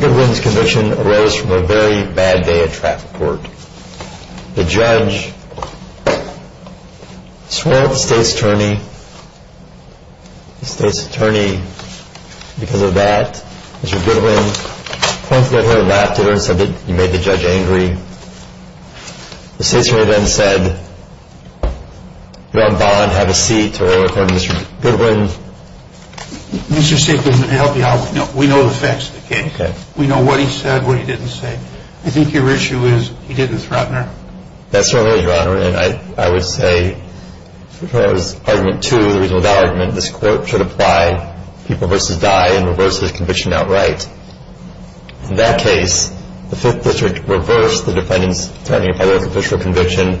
Goodwin's conviction arose from a very bad day of travel. The judge swore at the state's attorney. The state's attorney, because of that, Mr. Goodwin, pointed at her and laughed at her and said that you made the judge angry. The state's attorney then said, you're on bond, have a seat, to her, according to Mr. Goodwin. Mr. Stiglitz, let me help you out. We know the facts of the case. Okay. We know what he said, what he didn't say. I think your issue is, he didn't threaten her. That's right, Your Honor, and I would say, for argument two, the reason for that argument, this court should apply people versus Dye and reverse his conviction outright. In that case, the Fifth District reversed the defendant's threatening a public official conviction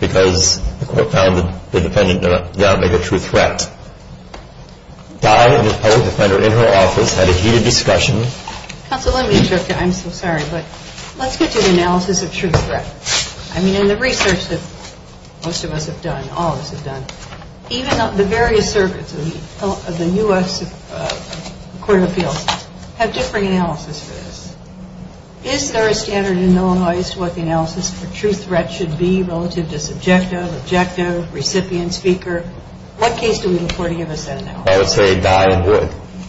because the court found the defendant not a true threat. Dye and the public defender in her office had a heated discussion. Counsel, let me interrupt you. I'm so sorry, but let's get to the analysis of true threat. I mean, in the research that most of us have done, all of us have done, even the various circuits of the U.S. Court of Appeals have different analysis for this. Is there a standard in Illinois as to what the analysis for true threat should be relative to subjective, objective, recipient, speaker? What case do we look for to give us that analysis? I would say Dye would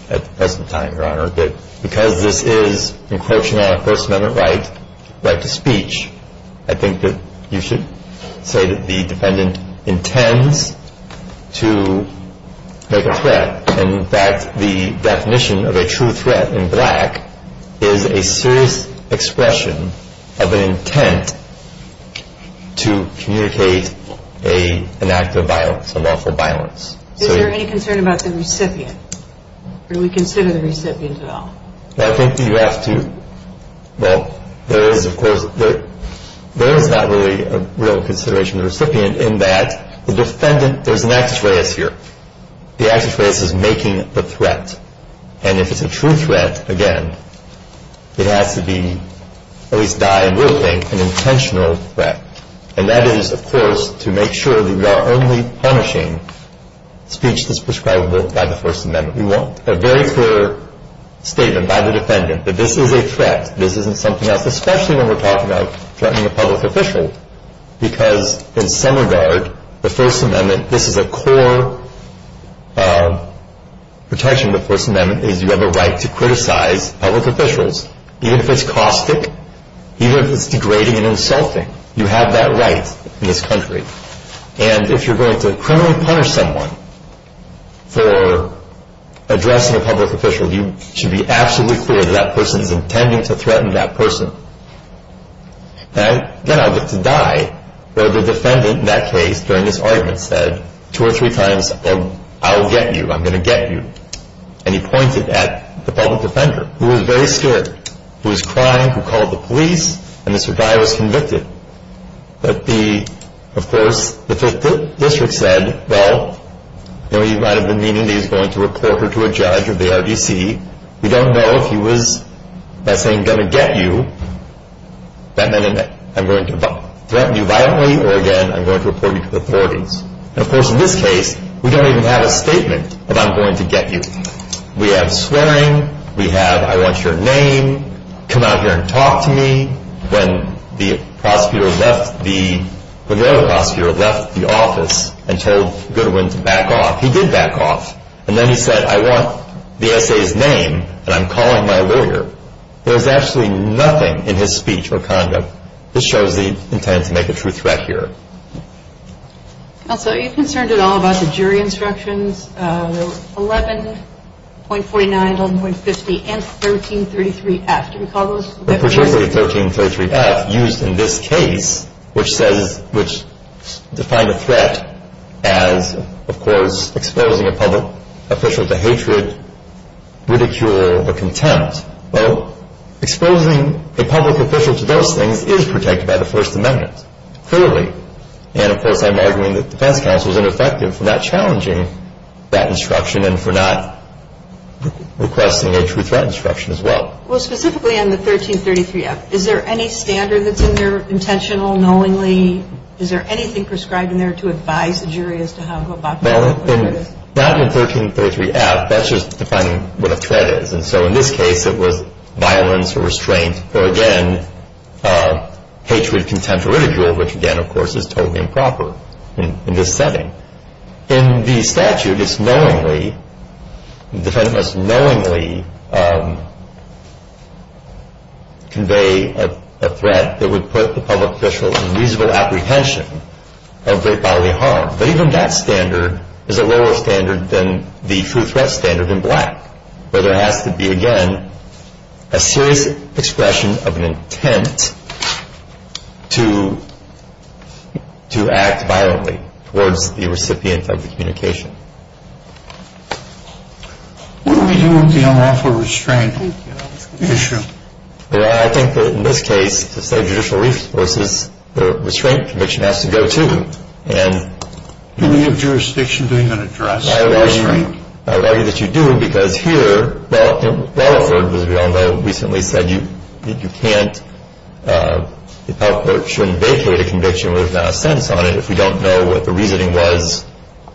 at the present time, Your Honor. But because this is, in quotation, a First Amendment right, right to speech, I think that you should say that the defendant intends to make a threat. And, in fact, the definition of a true threat in black is a serious expression of an intent to communicate an act of violence, a lawful violence. Is there any concern about the recipient? Or do we consider the recipient at all? I think you have to. Well, there is, of course. There is not really a real consideration of the recipient in that the defendant, there's an access race here. The access race is making the threat. And if it's a true threat, again, it has to be, at least Dye will think, an intentional threat. And that is, of course, to make sure that we are only punishing speech that's prescribable by the First Amendment. We want a very clear statement by the defendant that this is a threat. This isn't something else, especially when we're talking about threatening a public official, because in some regard, the First Amendment, this is a core protection of the First Amendment is you have a right to criticize public officials, even if it's caustic, even if it's degrading and insulting. You have that right in this country. And if you're going to criminally punish someone for addressing a public official, you should be absolutely clear that that person is intending to threaten that person. And again, I'll get to Dye, where the defendant in that case, during this argument, said two or three times, well, I'll get you, I'm going to get you. And he pointed at the public defender, who was very scared, who was crying, who called the police, and Mr. Dye was convicted. But the, of course, the Fifth District said, well, he might have been meaning that he was going to report her to a judge or the RDC. We don't know if he was, by saying, going to get you, that meant I'm going to threaten you violently, or again, I'm going to report you to the authorities. And, of course, in this case, we don't even have a statement of I'm going to get you. We have swearing, we have I want your name, come out here and talk to me. When the prosecutor left the, when the other prosecutor left the office and told Goodwin to back off, he did back off. And then he said, I want the essay's name, and I'm calling my lawyer. There's absolutely nothing in his speech or conduct that shows the intent to make a true threat here. So you're concerned at all about the jury instructions, 11.49, 11.50, and 1333F. Do you recall those? Well, particularly 1333F, used in this case, which says, which defined a threat as, of course, exposing a public official to hatred, ridicule, or contempt. Well, exposing a public official to those things is protected by the First Amendment, clearly. And, of course, I'm arguing that defense counsel is ineffective for not challenging that instruction and for not requesting a true threat instruction as well. Well, specifically on the 1333F, is there any standard that's in there, intentional, knowingly? Is there anything prescribed in there to advise the jury as to how to go about doing whatever it is? Well, not in the 1333F. That's just defining what a threat is. And so in this case, it was violence or restraint or, again, hatred, contempt, or ridicule, which, again, of course, is totally improper in this setting. In the statute, it's knowingly, the defendant must knowingly convey a threat that would put the public official in reasonable apprehension of great bodily harm. But even that standard is a lower standard than the true threat standard in black, where there has to be, again, a serious expression of an intent to act violently towards the recipient of the communication. What do we do with the unlawful restraint issue? Well, I think that in this case, to save judicial resources, the restraint conviction has to go, too. Do we have jurisdiction to even address the restraint? I would argue that you do, because here, well, Rutherford, as we all know, recently said you can't, the public shouldn't vacate a conviction without a sentence on it if we don't know what the reasoning was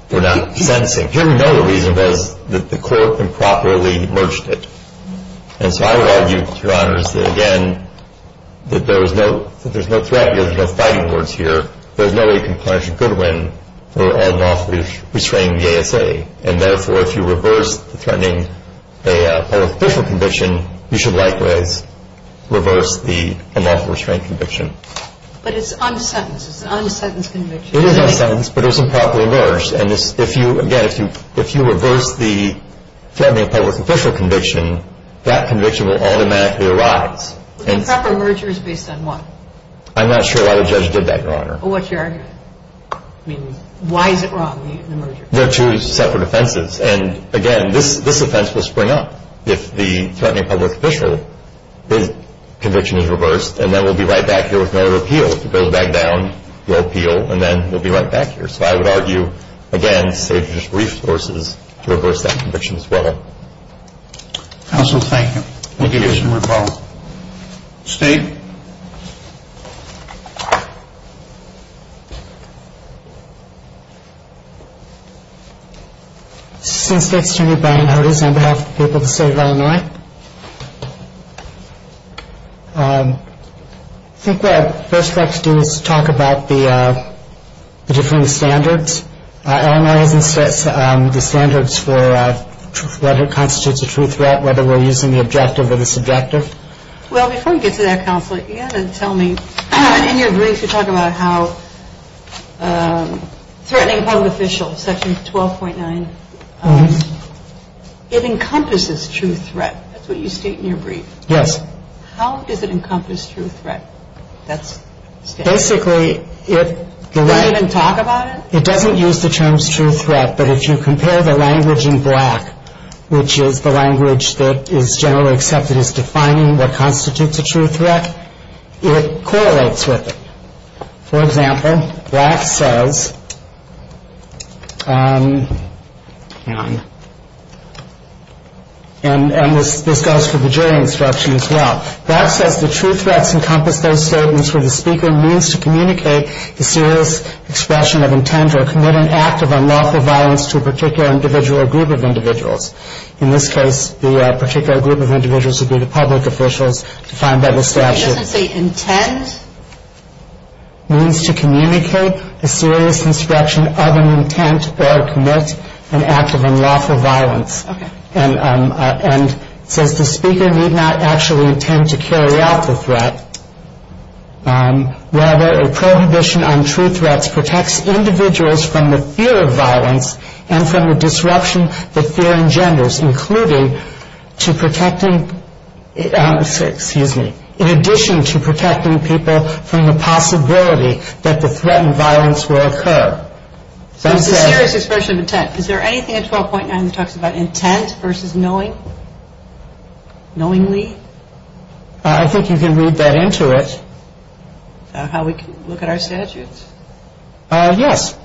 for not sentencing. Here we know the reason was that the court improperly merged it. And so I would argue, Your Honors, that, again, that there is no threat, there's no fighting words here. There's no way you can punish a goodwin for unlawfully restraining the ASA. And, therefore, if you reverse the threatening a public official conviction, you should likewise reverse the unlawful restraint conviction. But it's unsentenced. It's an unsentenced conviction. And, again, if you reverse the threatening a public official conviction, that conviction will automatically arise. Improper merger is based on what? I'm not sure why the judge did that, Your Honor. Well, what's your argument? I mean, why is it wrong, the merger? They're two separate offenses. And, again, this offense will spring up if the threatening a public official conviction is reversed. And then we'll be right back here with no other appeal. If it goes back down, we'll appeal, and then we'll be right back here. So I would argue, again, safe and just resources to reverse that conviction as well. Counsel, thank you. Thank you, Your Honor. Thank you. State? Assistant State Attorney Brian Hodes on behalf of the people of the state of Illinois. I think what I'd first like to do is talk about the different standards. Illinois has the standards for whether it constitutes a true threat, whether we're using the objective or the subjective. Well, before we get to that, Counsel, you've got to tell me, in your brief, you talk about how threatening a public official, Section 12.9, it encompasses true threat. That's what you state in your brief. Yes. How does it encompass true threat? Basically, it doesn't use the terms true threat, but if you compare the language in Black, which is the language that is generally accepted as defining what constitutes a true threat, it correlates with it. For example, Black says, and this goes for the jury instruction as well, Black says the true threats encompass those statements where the speaker means to communicate the serious expression of intent or commit an act of unlawful violence to a particular individual or group of individuals. In this case, the particular group of individuals would be the public officials defined by the statute. It doesn't say intent? It means to communicate a serious instruction of an intent or commit an act of unlawful violence. Okay. And it says the speaker need not actually intend to carry out the threat. Rather, a prohibition on true threats protects individuals from the fear of violence and from the disruption that fear engenders, including to protecting, excuse me, in addition to protecting people from the possibility that the threat and violence will occur. So it's a serious expression of intent. Is there anything in 12.9 that talks about intent versus knowing, knowingly? I think you can read that into it. How we can look at our statutes. Yes.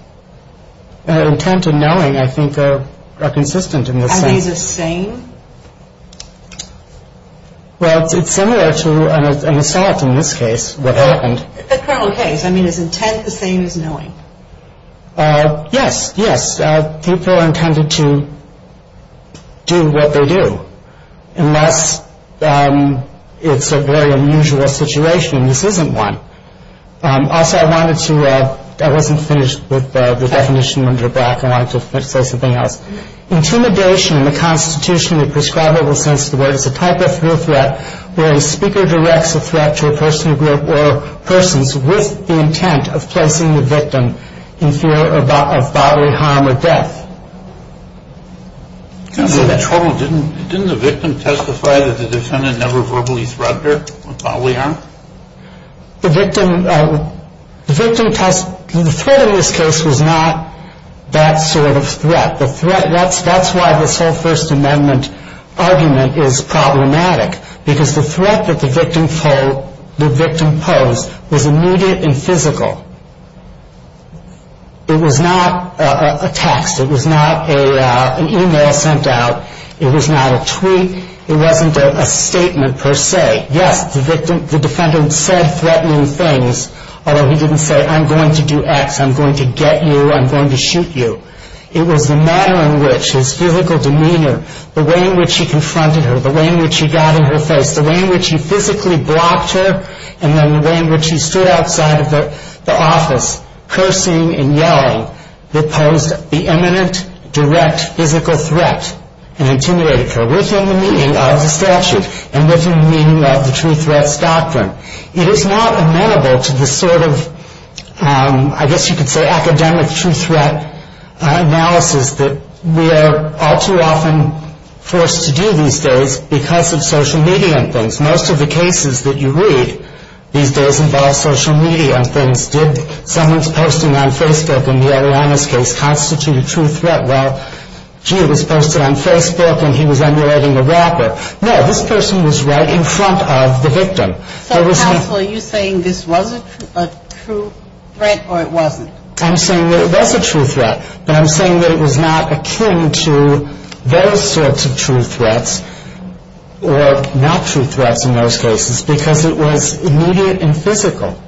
Intent and knowing, I think, are consistent in this sense. Are these the same? Well, it's similar to an assault in this case, what happened. The criminal case, I mean, is intent the same as knowing? Yes, yes. People are intended to do what they do, unless it's a very unusual situation. This isn't one. Also, I wanted to, I wasn't finished with the definition under the back. I wanted to say something else. Intimidation in the constitutionally prescribable sense of the word is a type of real threat where a speaker directs a threat to a person or group or persons with the intent of placing the victim in fear of bodily harm or death. Didn't the victim testify that the defendant never verbally threatened her with bodily harm? The victim test, the threat in this case was not that sort of threat. The threat, that's why this whole First Amendment argument is problematic because the threat that the victim posed was immediate and physical. It was not a text. It was not an email sent out. It was not a tweet. It wasn't a statement per se. Yes, the victim, the defendant said threatening things, although he didn't say I'm going to do X, I'm going to get you, I'm going to shoot you. It was the manner in which his physical demeanor, the way in which he confronted her, the way in which he got in her face, the way in which he physically blocked her, and then the way in which he stood outside of the office cursing and yelling that posed the imminent, direct, physical threat and intimidated her within the meaning of the statute and within the meaning of the true threats doctrine. It is not amenable to the sort of, I guess you could say, academic true threat analysis that we are all too often forced to do these days because of social media and things. Most of the cases that you read these days involve social media and things. Did someone's posting on Facebook in the Eliana's case constitute a true threat? Well, gee, it was posted on Facebook and he was emulating a rapper. No, this person was right in front of the victim. So, counsel, are you saying this was a true threat or it wasn't? I'm saying that it was a true threat, but I'm saying that it was not akin to those sorts of true threats or not true threats in most cases because it was immediate and physical.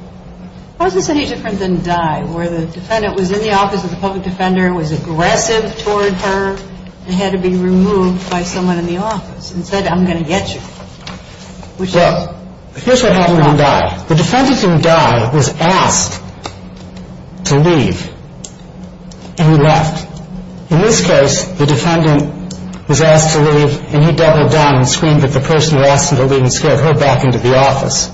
How is this any different than die, where the defendant was in the office of the public defender, was aggressive toward her, and had to be removed by someone in the office and said, I'm going to get you? Well, here's what happened on die. The defendant in die was asked to leave, and he left. In this case, the defendant was asked to leave, and he doubled down and screamed at the person who asked him to leave and scared her back into the office.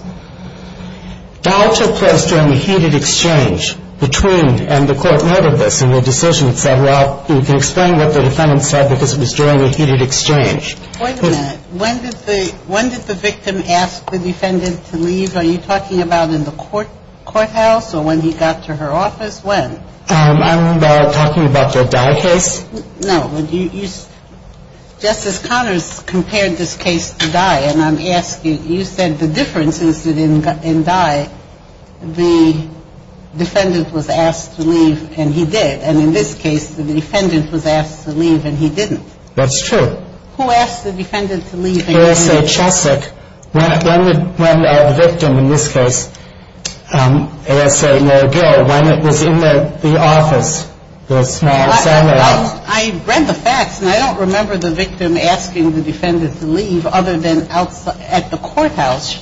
Die took place during a heated exchange between, and the court noted this in the decision, it said, well, you can explain what the defendant said because it was during a heated exchange. Wait a minute. When did the victim ask the defendant to leave? Are you talking about in the courthouse or when he got to her office? When? I'm talking about the die case. No. Justice Connors compared this case to die, and I'm asking, you said the difference is that in die, the defendant was asked to leave, and he did. And in this case, the defendant was asked to leave, and he didn't. That's true. Who asked the defendant to leave? ASA Cheswick. When did the victim, in this case, ASA McGill, when it was in the office? I read the facts, and I don't remember the victim asking the defendant to leave other than at the courthouse.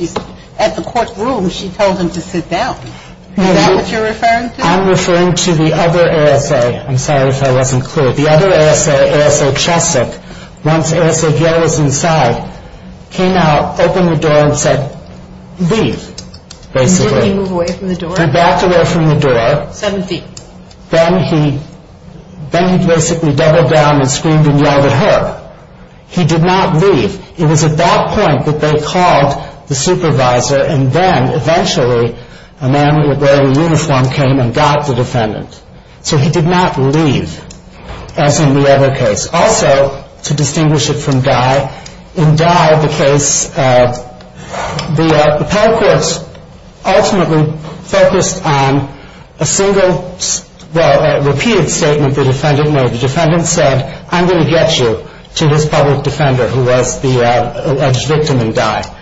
At the courtroom, she told him to sit down. Is that what you're referring to? I'm referring to the other ASA. I'm sorry if I wasn't clear. The other ASA, ASA Cheswick, once ASA Gill was inside, came out, opened the door and said, leave, basically. Did he move away from the door? He backed away from the door. Seven feet. Then he basically doubled down and screamed and yelled at her. He did not leave. It was at that point that they called the supervisor, and then, eventually, a man wearing a uniform came and got the defendant. So he did not leave, as in the other case. Also, to distinguish it from Dye, in Dye, the case, the appellate courts ultimately focused on a single, well, repeated statement the defendant made. The defendant said, I'm going to get you to this public defender who was the alleged victim in Dye.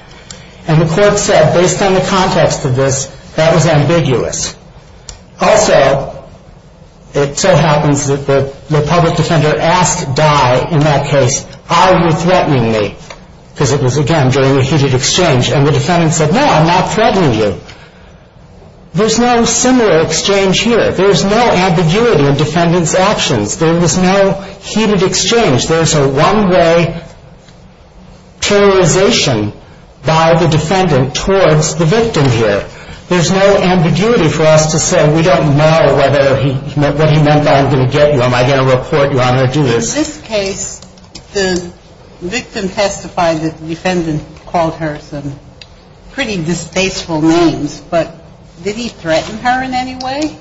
And the court said, based on the context of this, that was ambiguous. Also, it so happens that the public defender asked Dye in that case, are you threatening me? Because it was, again, during a heated exchange, and the defendant said, no, I'm not threatening you. There's no similar exchange here. There's no ambiguity in defendant's actions. There was no heated exchange. There's a one-way terrorization by the defendant towards the victim here. There's no ambiguity for us to say, we don't know whether what he meant by I'm going to get you, am I going to report you, I'm going to do this. In this case, the victim testified that the defendant called her some pretty distasteful names, but did he threaten her in any way?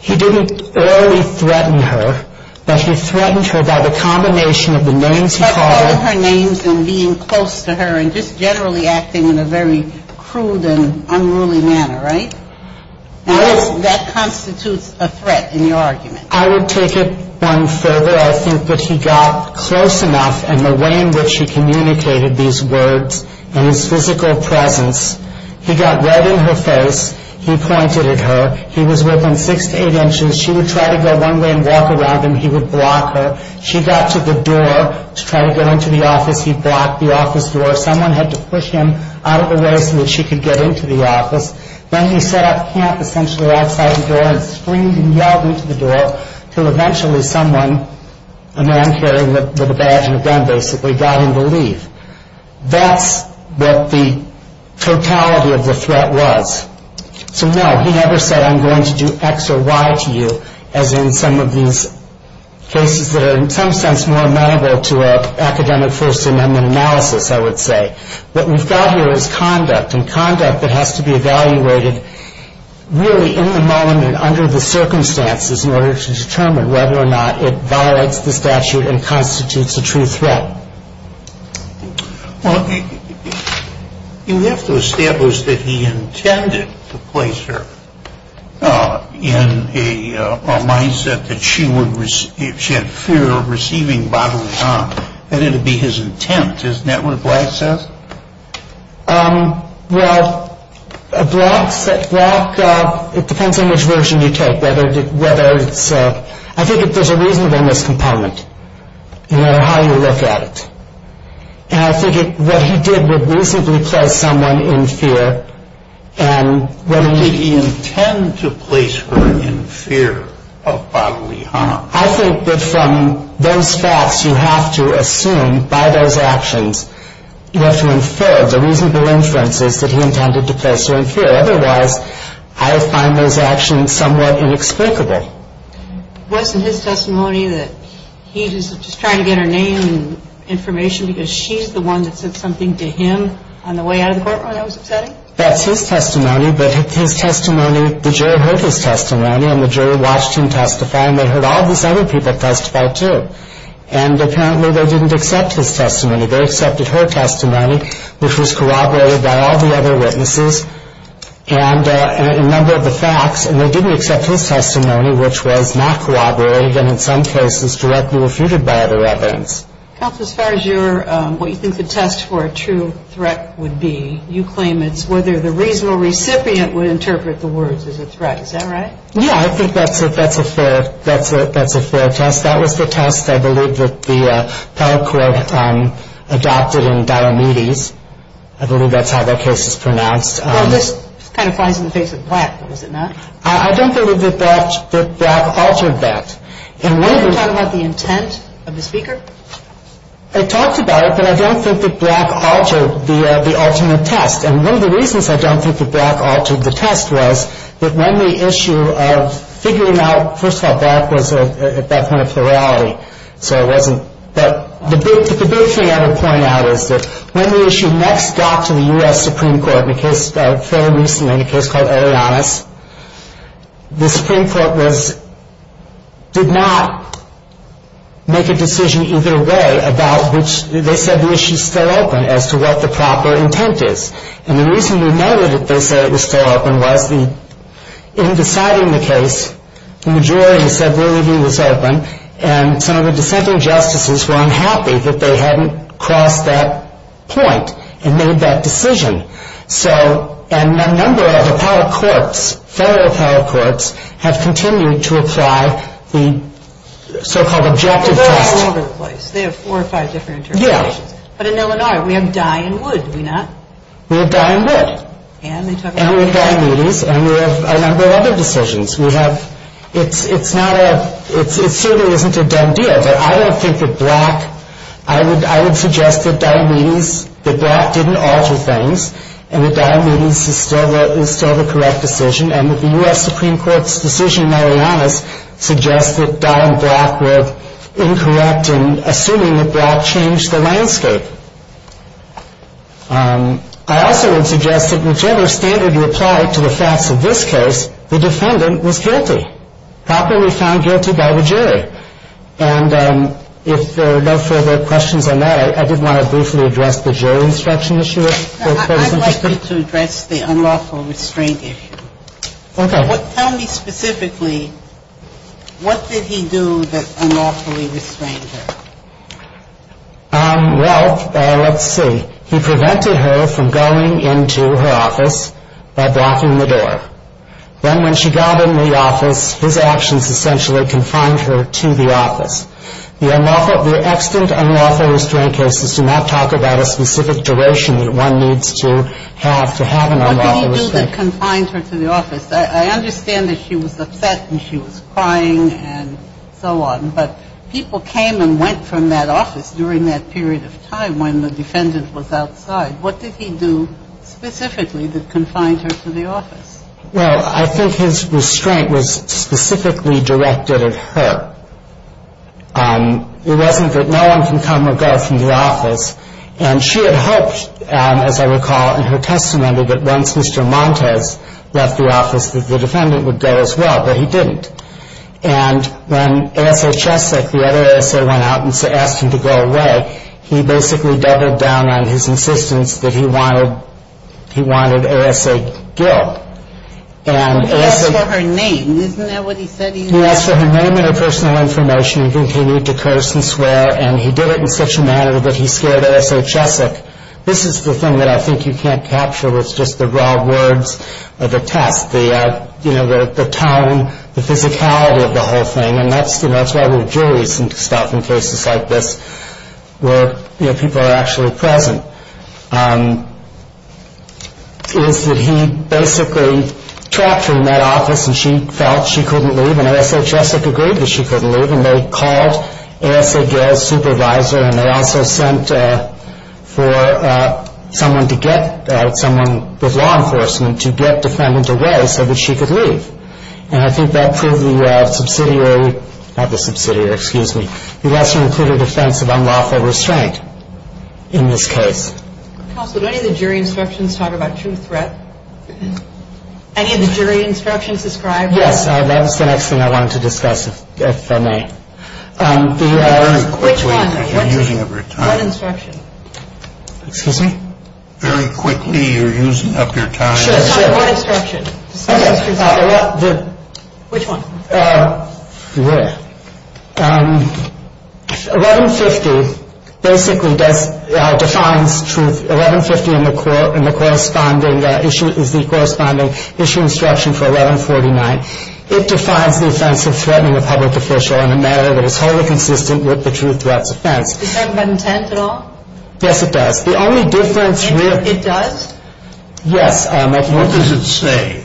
He didn't really threaten her, but he threatened her by the combination of the names he called her. By calling her names and being close to her and just generally acting in a very crude and unruly manner, right? That constitutes a threat in your argument. I would take it one further. I think that he got close enough in the way in which he communicated these words and his physical presence. He got right in her face. He pointed at her. He was within six to eight inches. She would try to go one way and walk around him. He would block her. She got to the door to try to get into the office. He blocked the office door. Someone had to push him out of the way so that she could get into the office. Then he set up camp essentially outside the door and screamed and yelled into the door until eventually someone, a man carrying a badge and a gun basically, got him to leave. That's what the totality of the threat was. So no, he never said I'm going to do X or Y to you as in some of these cases that are in some sense more amenable to an academic First Amendment analysis, I would say. What we've got here is conduct and conduct that has to be evaluated really in the moment and under the circumstances in order to determine whether or not it violates the statute and constitutes a true threat. Well, you have to establish that he intended to place her in a mindset that she had fear of receiving bodily harm. That had to be his intent, isn't that what Black says? Well, Black, it depends on which version you take. I think there's a reasonableness component no matter how you look at it. And I think what he did was reasonably place someone in fear. Did he intend to place her in fear of bodily harm? I think that from those facts, you have to assume by those actions, you have to infer the reasonable inferences that he intended to place her in fear. Otherwise, I find those actions somewhat inexplicable. Wasn't his testimony that he was just trying to get her name and information because she's the one that said something to him on the way out of the courtroom that was upsetting? That's his testimony. But his testimony, the jury heard his testimony, and the jury watched him testify, and they heard all these other people testify too. And apparently they didn't accept his testimony. They accepted her testimony, which was corroborated by all the other witnesses and a number of the facts. And they didn't accept his testimony, which was not corroborated and in some cases directly refuted by other evidence. Counsel, as far as what you think the test for a true threat would be, you claim it's whether the reasonable recipient would interpret the words as a threat. Is that right? Yeah, I think that's a fair test. That was the test, I believe, that the appellate court adopted in Diomedes. I believe that's how that case is pronounced. Well, this kind of flies in the face of Black, though, does it not? I don't believe that Black altered that. Are you talking about the intent of the speaker? I talked about it, but I don't think that Black altered the alternate test. And one of the reasons I don't think that Black altered the test was that when the issue of figuring out, first of all, Black was at that point a plurality, so it wasn't. But the big thing I would point out is that when the issue next got to the U.S. Supreme Court, in a case fairly recently, in a case called Elianas, the Supreme Court did not make a decision either way about which they said the issue is still open as to what the proper intent is. And the reason we know that they said it was still open was in deciding the case, the majority said really he was open, and some of the dissenting justices were unhappy that they hadn't crossed that point and made that decision. So, and a number of appellate courts, federal appellate courts, have continued to apply the so-called objective test. But they're all over the place. They have four or five different interpretations. Yeah. But in Illinois, we have Dye and Wood, do we not? We have Dye and Wood. And we have Diomedes, and we have a number of other decisions. We have, it's not a, it certainly isn't a done deal. But I don't think that Black, I would suggest that Diomedes, that Black didn't alter things, and that Diomedes is still the correct decision, and that the U.S. Supreme Court's decision in Elianas suggests that Dye and Black were incorrect in assuming that Black changed the landscape. I also would suggest that whichever standard you apply to the facts of this case, the defendant was guilty, properly found guilty by the jury. And if there are no further questions on that, I did want to briefly address the jury instruction issue. I'd like you to address the unlawful restraint issue. Okay. Tell me specifically, what did he do that unlawfully restrained him? Well, let's see. He prevented her from going into her office by blocking the door. Then when she got in the office, his actions essentially confined her to the office. The unlawful, the extant unlawful restraint cases do not talk about a specific duration that one needs to have to have an unlawful restraint. What did he do that confined her to the office? I understand that she was upset and she was crying and so on. But people came and went from that office during that period of time when the defendant was outside. What did he do specifically that confined her to the office? Well, I think his restraint was specifically directed at her. It wasn't that no one can come or go from the office. And she had hoped, as I recall in her testimony, that once Mr. Montes left the office that the defendant would go as well. But he didn't. And when A.S.A. Chesek, the other A.S.A., went out and asked him to go away, he basically doubled down on his insistence that he wanted A.S.A. Gill. He asked for her name. Isn't that what he said he wanted? He asked for her name and her personal information. He didn't think he needed to curse and swear. And he did it in such a manner that he scared A.S.A. Chesek. This is the thing that I think you can't capture with just the raw words of the test, the tone, the physicality of the whole thing, and that's why we have juries and stuff in cases like this where people are actually present, is that he basically trapped her in that office and she felt she couldn't leave. And A.S.A. Chesek agreed that she couldn't leave. And they called A.S.A. Gill's supervisor, and they also sent for someone with law enforcement to get defendant away so that she could leave. And I think that proved the less-than-included offense of unlawful restraint in this case. Counsel, do any of the jury instructions talk about true threat? Any of the jury instructions describe that? Yes, that was the next thing I wanted to discuss, if I may. Very quickly, you're using up your time. Excuse me? Very quickly, you're using up your time. Which one? 1150 basically defines truth. 1150 is the corresponding issue instruction for 1149. It defines the offense of threatening a public official in a manner that is wholly consistent with the true threat's offense. Does that have intent at all? Yes, it does. The only difference with... It does? Yes. What does it say?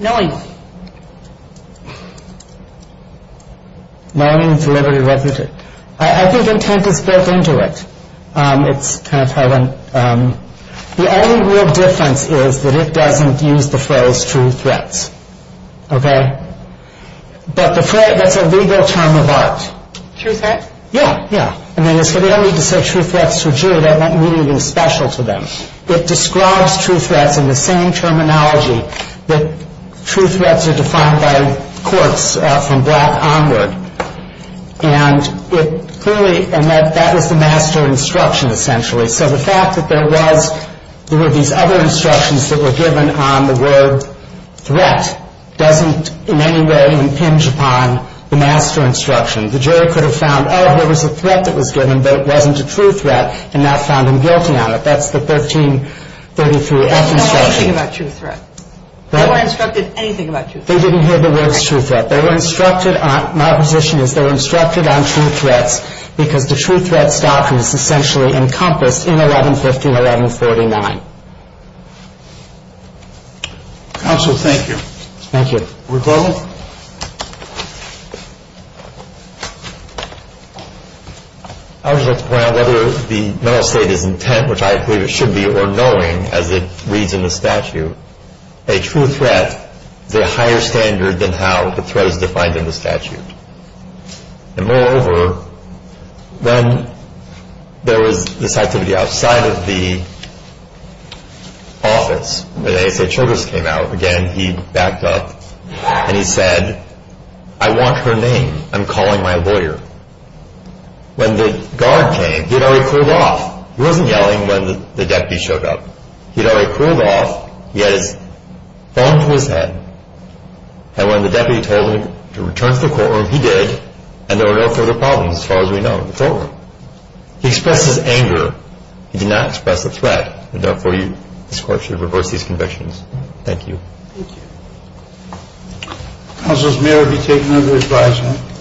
Knowing. Knowing, deliberative, reputative. I think intent is built into it. The only real difference is that it doesn't use the phrase true threats. Okay? But the phrase... That's a legal term of art. True threat? Yeah, yeah. I mean, they don't need to say true threats to a jury. That won't mean anything special to them. It describes true threats in the same terminology that true threats are defined by courts from black onward. And it clearly... And that was the master instruction, essentially. So the fact that there was... There were these other instructions that were given on the word threat doesn't in any way impinge upon the master instruction. The jury could have found, oh, there was a threat that was given, but it wasn't a true threat, and not found them guilty on it. That's the 1333-F instruction. They didn't know anything about true threat. They weren't instructed anything about true threat. They didn't hear the words true threat. They were instructed on... My position is they were instructed on true threats because the true threat doctrine is essentially encompassed in 1150 and 1149. Counsel, thank you. Thank you. We're closed? I would just like to point out whether the mental state is intent, which I believe it should be, or knowing, as it reads in the statute, a true threat is a higher standard than how the threat is defined in the statute. And moreover, when there was this activity outside of the office, when A.S.A. Churchill came out, again, he backed up, and he said, I want her name. I'm calling my lawyer. When the guard came, he had already pulled off. He wasn't yelling when the deputy showed up. He had already pulled off. He had his phone to his head. And when the deputy told him to return to the courtroom, he did, and there were no further problems as far as we know. It's over. He expressed his anger. He did not express a threat. And therefore, this court should reverse these convictions. Thank you. Thank you. Counsel, may I be taken under advisement?